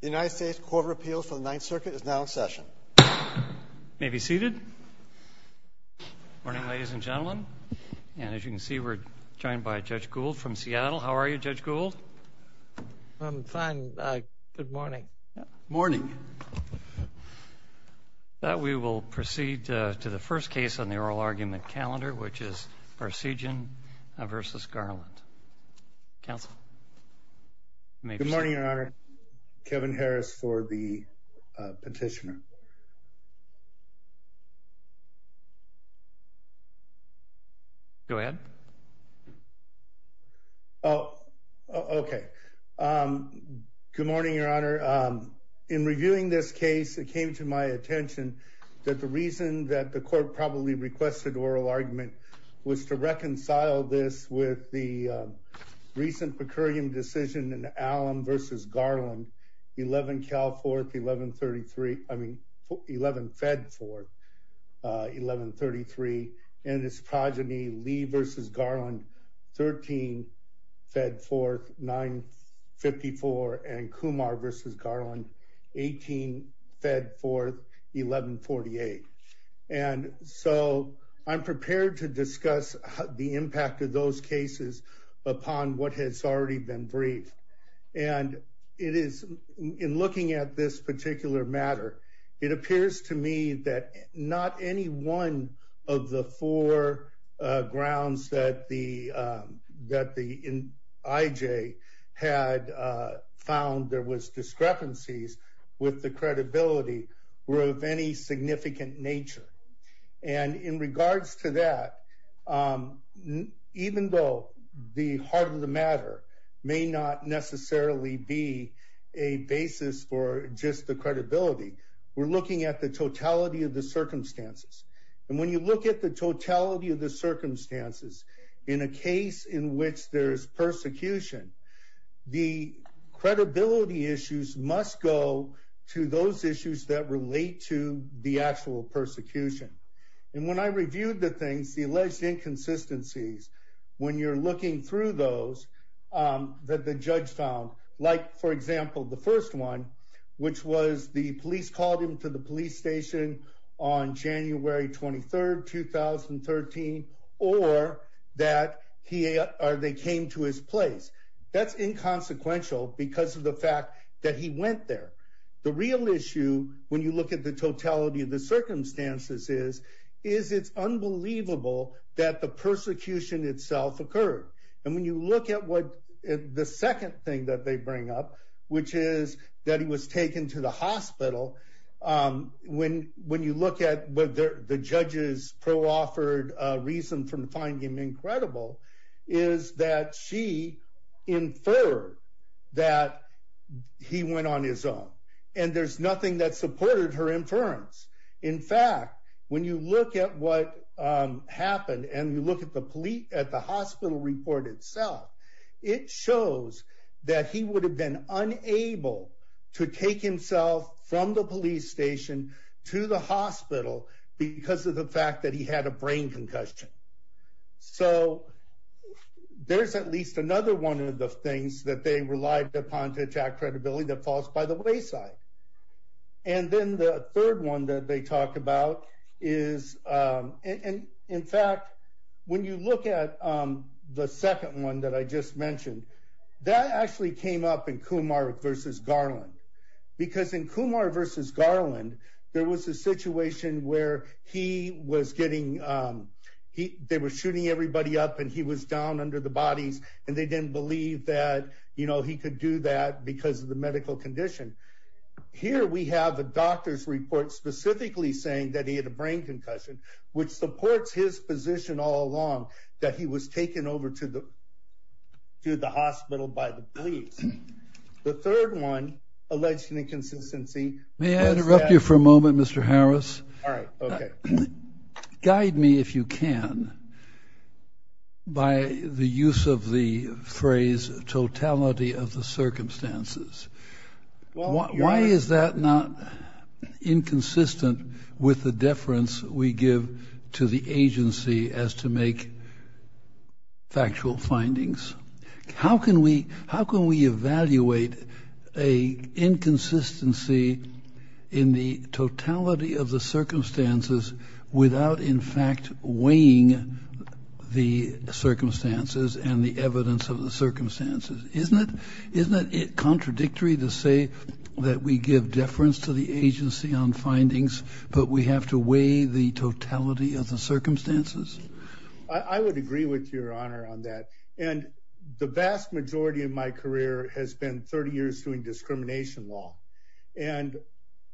The United States Court of Appeals for the Ninth Circuit is now in session. You may be seated. Good morning, ladies and gentlemen. As you can see, we're joined by Judge Gould from Seattle. How are you, Judge Gould? I'm fine. Good morning. Good morning. We will proceed to the first case on the oral argument calendar, which is Barseghyan v. Garland. Counsel, you may be seated. Good morning, Your Honor. Kevin Harris for the petitioner. Go ahead. Oh, okay. Good morning, Your Honor. In reviewing this case, it came to my attention that the reason that the court probably requested oral argument was to reconcile this with the recent per curiam decision in Allum v. Garland, 11 Calforth, 1133, I mean, 11 Fedforth, 1133, and its progeny, Lee v. Garland, 13 Fedforth, 954, and Kumar v. Garland, 18 Fedforth, 1148. And so I'm prepared to discuss the impact of those cases upon what has already been briefed. And in looking at this particular matter, it appears to me that not any one of the four grounds that the IJ had found there was discrepancies with the credibility were of any significant nature. And in regards to that, even though the heart of the matter may not necessarily be a basis for just the credibility, we're looking at the totality of the circumstances. And when you look at the totality of the circumstances, in a case in which there's persecution, the credibility issues must go to those issues that relate to the actual persecution. And when I reviewed the things, the alleged inconsistencies, when you're looking through those that the judge found, like, for example, the first one, which was the police called him to the police station on January 23rd, 2013, or that they came to his place. That's inconsequential because of the fact that he went there. The real issue, when you look at the totality of the circumstances, is it's unbelievable that the persecution itself occurred. And when you look at the second thing that they bring up, which is that he was taken to the hospital, when you look at the judge's pro-offered reason for finding him incredible, is that she inferred that he went on his own. And there's nothing that supported her inference. In fact, when you look at what happened, and you look at the hospital report itself, it shows that he would have been unable to take himself from the police station to the hospital because of the fact that he had a brain concussion. So there's at least another one of the things that they relied upon to attack credibility that falls by the wayside. And then the third one that they talk about is, in fact, when you look at the second one that I just mentioned, that actually came up in Kumar v. Garland. Because in Kumar v. Garland, there was a situation where they were shooting everybody up and he was down under the bodies, and they didn't believe that he could do that because of the medical condition. Here we have a doctor's report specifically saying that he had a brain concussion, which supports his position all along that he was taken over to the hospital by the police. The third one, alleged inconsistency, may I interrupt you for a moment, Mr. Harris? All right. Okay. Guide me, if you can, by the use of the phrase, totality of the circumstances. Why is that not inconsistent with the deference we give to the agency as to make factual findings? How can we evaluate an inconsistency in the totality of the circumstances without, in fact, weighing the circumstances and the evidence of the circumstances? Isn't it contradictory to say that we give deference to the agency on findings, but we have to weigh the totality of the circumstances? I would agree with your honor on that. The vast majority of my career has been 30 years doing discrimination law.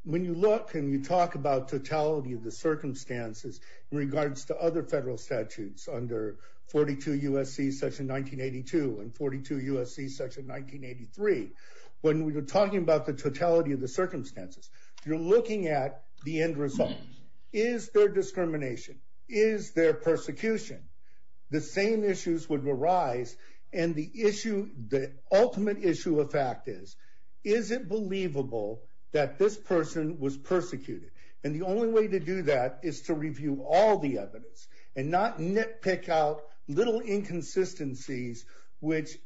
When you look and you talk about totality of the circumstances in regards to other federal statutes under 42 U.S.C. Section 1982 and 42 U.S.C. Section 1983, when we were talking about the totality of the circumstances, you're looking at the end result. Is there discrimination? Is there persecution? The same issues would arise. And the ultimate issue of fact is, is it believable that this person was persecuted? And the only way to do that is to review all the evidence and not nitpick out little inconsistencies, which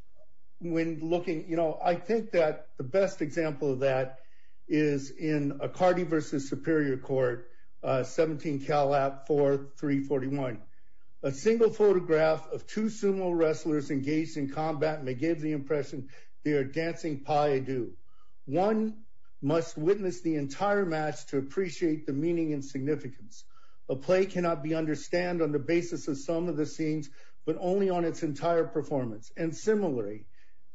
when looking, you know, I think that the best example of that is in a Cardi v. Superior Court, 17 CALAP 4341. A single photograph of two sumo wrestlers engaged in combat may give the impression they are dancing Paidu. One must witness the entire match to appreciate the meaning and significance. A play cannot be understand on the basis of some of the scenes, but only on its entire performance. And similarly,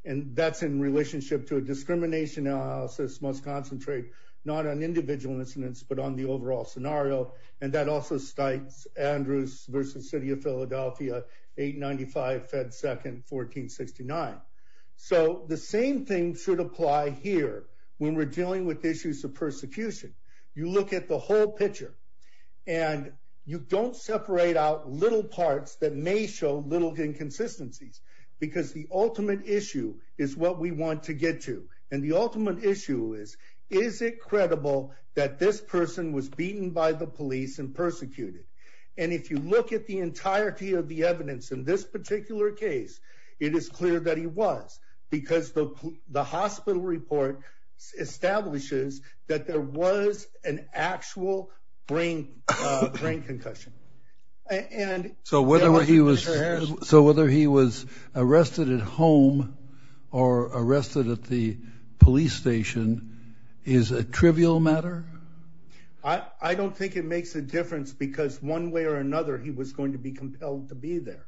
and that's in relationship to a discrimination analysis, must concentrate not on individual incidents, but on the overall scenario. And that also states Andrews v. City of Philadelphia, 895 Fed 2nd, 1469. So the same thing should apply here. When we're dealing with issues of persecution, you look at the whole picture, and you don't separate out little parts that may show little inconsistencies, because the ultimate issue is what we want to get to. And the ultimate issue is, is it credible that this person was beaten by the police and persecuted? And if you look at the entirety of the evidence in this particular case, it is clear that he was, because the hospital report establishes that there was an actual brain concussion. So whether he was arrested at home or arrested at the police station is a trivial matter? I don't think it makes a difference, because one way or another he was going to be compelled to be there.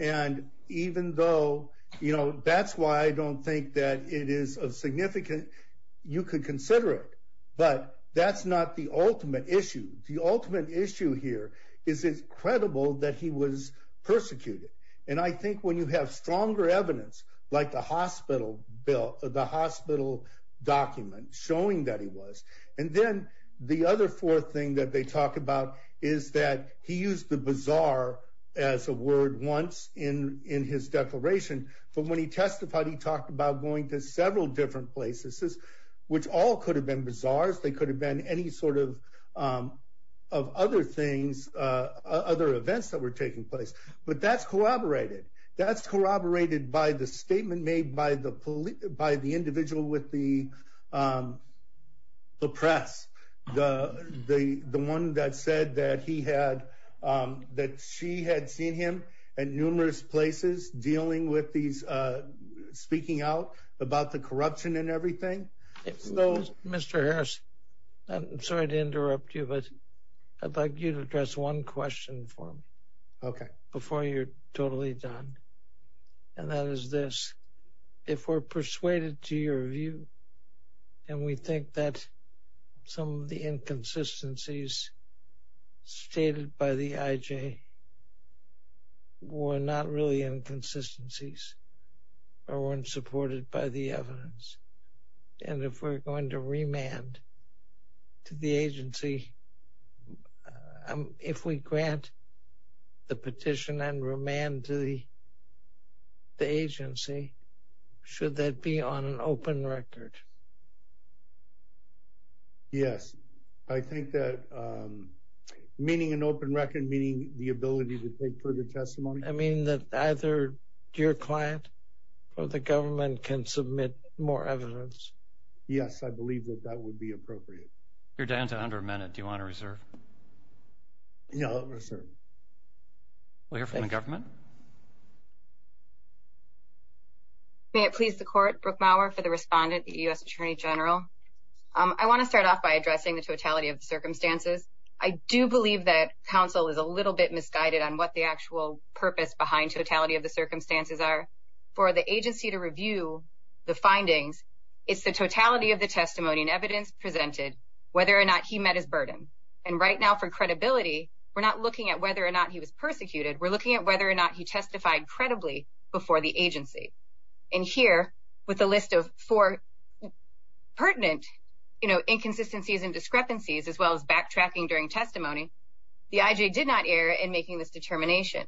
And even though, you know, that's why I don't think that it is of significant, you could consider it, but that's not the ultimate issue. The ultimate issue here is, is it credible that he was persecuted? And I think when you have stronger evidence, like the hospital bill, the hospital document showing that he was. And then the other fourth thing that they talk about is that he used the bizarre as a word once in his declaration. But when he testified, he talked about going to several different places, which all could have been bizarres. Of course they could have been any sort of other things, other events that were taking place. But that's corroborated. That's corroborated by the statement made by the individual with the press. The one that said that he had, that she had seen him at numerous places dealing with these, speaking out about the corruption and everything. Mr. Harris, I'm sorry to interrupt you, but I'd like you to address one question for me. Okay. Before you're totally done. And that is this, if we're persuaded to your view, and we think that some of the inconsistencies stated by the IJ were not really inconsistencies, or weren't supported by the evidence. And if we're going to remand to the agency, if we grant the petition and remand to the agency, should that be on an open record? Yes. I think that, meaning an open record, meaning the ability to take further testimony? I mean that either your client or the government can submit more evidence. Yes, I believe that that would be appropriate. You're down to under a minute. Do you want to reserve? No, I'll reserve. We'll hear from the government. May it please the court, Brooke Maurer for the respondent, the U.S. Attorney General. I want to start off by addressing the totality of the circumstances. I do believe that counsel is a little bit misguided on what the actual purpose behind totality of the circumstances are. For the agency to review the findings, it's the totality of the testimony and evidence presented, whether or not he met his burden. And right now for credibility, we're not looking at whether or not he was persecuted. We're looking at whether or not he testified credibly before the agency. And here, with a list of four pertinent inconsistencies and discrepancies, as well as backtracking during testimony, the I.J. did not err in making this determination.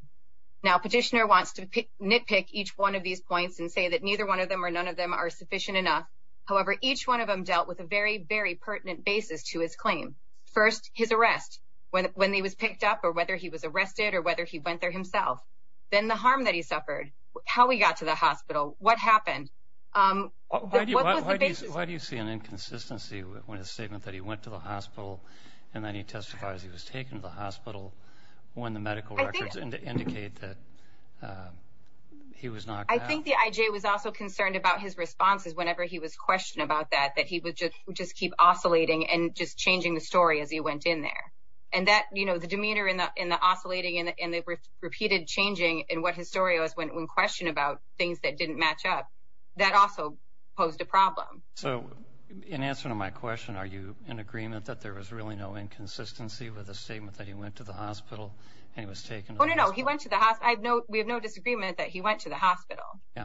Now, petitioner wants to nitpick each one of these points and say that neither one of them or none of them are sufficient enough. However, each one of them dealt with a very, very pertinent basis to his claim. First, his arrest, when he was picked up or whether he was arrested or whether he went there himself. Then the harm that he suffered, how he got to the hospital, what happened. Why do you see an inconsistency when a statement that he went to the hospital and then he testifies he was taken to the hospital when the medical records indicate that he was knocked out? I think the I.J. was also concerned about his responses whenever he was questioned about that, that he would just keep oscillating and just changing the story as he went in there. And that, you know, the demeanor and the oscillating and the repeated changing in what his story was when questioned about things that didn't match up, that also posed a problem. So, in answer to my question, are you in agreement that there was really no inconsistency with a statement that he went to the hospital and he was taken to the hospital? Oh, no, no. He went to the hospital. We have no disagreement that he went to the hospital. Yeah.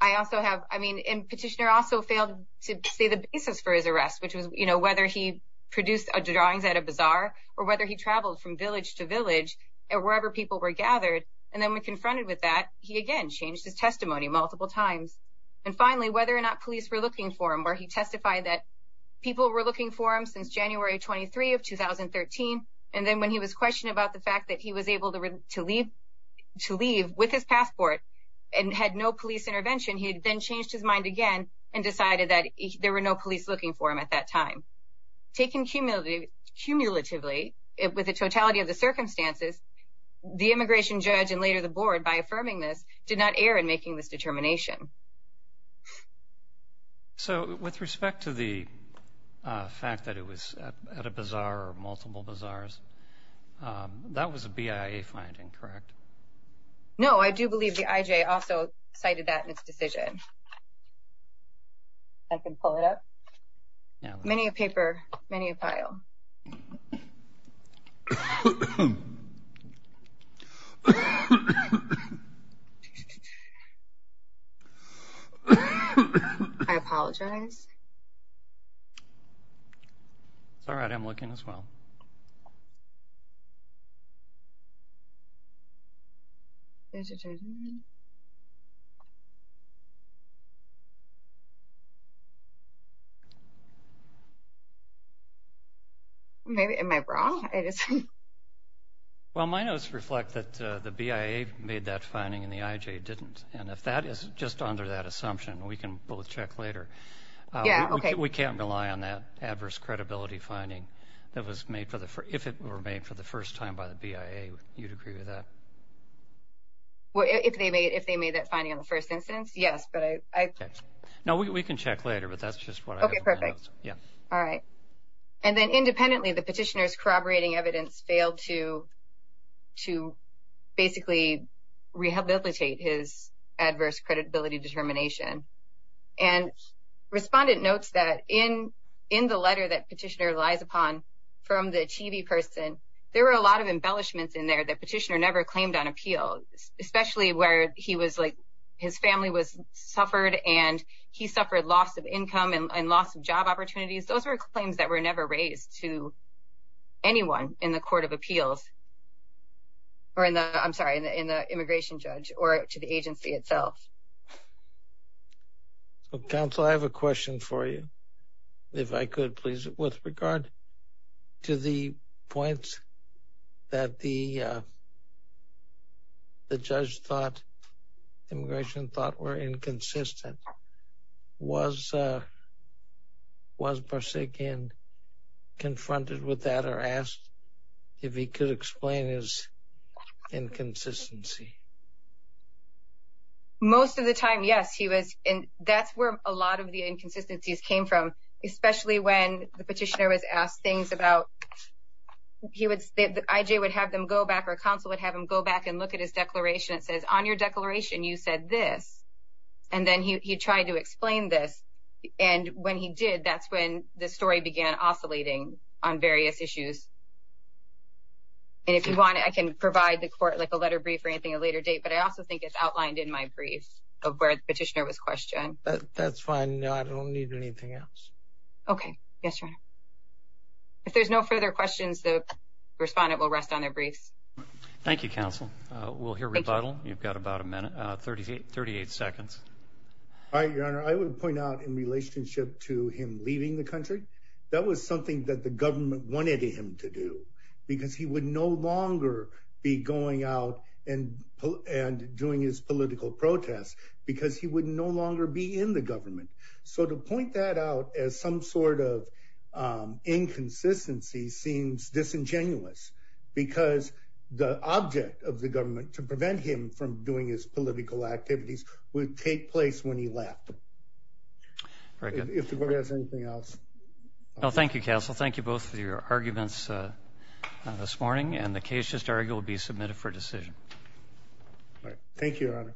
I also have, I mean, and petitioner also failed to say the basis for his arrest, which was, you know, whether he produced drawings at a bazaar or whether he traveled from village to village or wherever people were gathered. And then when confronted with that, he again changed his testimony multiple times. And finally, whether or not police were looking for him, where he testified that people were looking for him since January 23 of 2013. And then when he was questioned about the fact that he was able to leave with his passport and had no police intervention, he then changed his mind again and decided that there were no police looking for him at that time. Taken cumulatively, with the totality of the circumstances, the immigration judge and later the board, by affirming this, did not err in making this determination. So, with respect to the fact that it was at a bazaar or multiple bazaars, that was a BIA finding, correct? No, I do believe the IJ also cited that in its decision. I can pull it up? Many a paper, many a pile. I apologize. It's all right, I'm looking as well. There's a gentleman. Maybe, am I wrong? Well, my notes reflect that the BIA made that finding and the IJ didn't. And if that is just under that assumption, we can both check later. Yeah, okay. We can't rely on that adverse credibility finding that was made for the first, that was made for the first time by the BIA. You'd agree with that? Well, if they made that finding in the first instance, yes. No, we can check later, but that's just what I have in my notes. Okay, perfect. All right. And then independently, the petitioner's corroborating evidence failed to basically rehabilitate his adverse credibility determination. And respondent notes that in the letter that petitioner relies upon from the TV person, there were a lot of embellishments in there that petitioner never claimed on appeal, especially where he was like his family was suffered and he suffered loss of income and loss of job opportunities. Those were claims that were never raised to anyone in the court of appeals. Or in the, I'm sorry, in the immigration judge or to the agency itself. Counsel, I have a question for you. If I could, please. With regard to the points that the judge thought, immigration thought were inconsistent, was Barseghin confronted with that or asked if he could explain his inconsistency? Most of the time, yes, he was. And that's where a lot of the inconsistencies came from, especially when the petitioner was asked things about, he would say that IJ would have them go back or counsel would have him go back and look at his declaration. It says on your declaration, you said this. And then he tried to explain this. And when he did, that's when the story began oscillating on various issues. And if you want, I can provide the court like a letter brief or anything at a later date. But I also think it's outlined in my brief of where the petitioner was questioned. That's fine. No, I don't need anything else. Okay. Yes, sir. If there's no further questions, the respondent will rest on their briefs. Thank you. Counsel. We'll hear rebuttal. You've got about a minute, 38, 38 seconds. All right, your honor. I would point out in relationship to him leaving the country. That was something that the government wanted him to do because he would No longer be going out and, and doing his political protests because he would no longer be in the government. So to point that out as some sort of inconsistency seems disingenuous because the object of the government to prevent him from doing his political activities would take place when he left. Very good. If the board has anything else. No, thank you, counsel. Thank you both for your arguments this morning. And the case just argued will be submitted for decision. Thank you.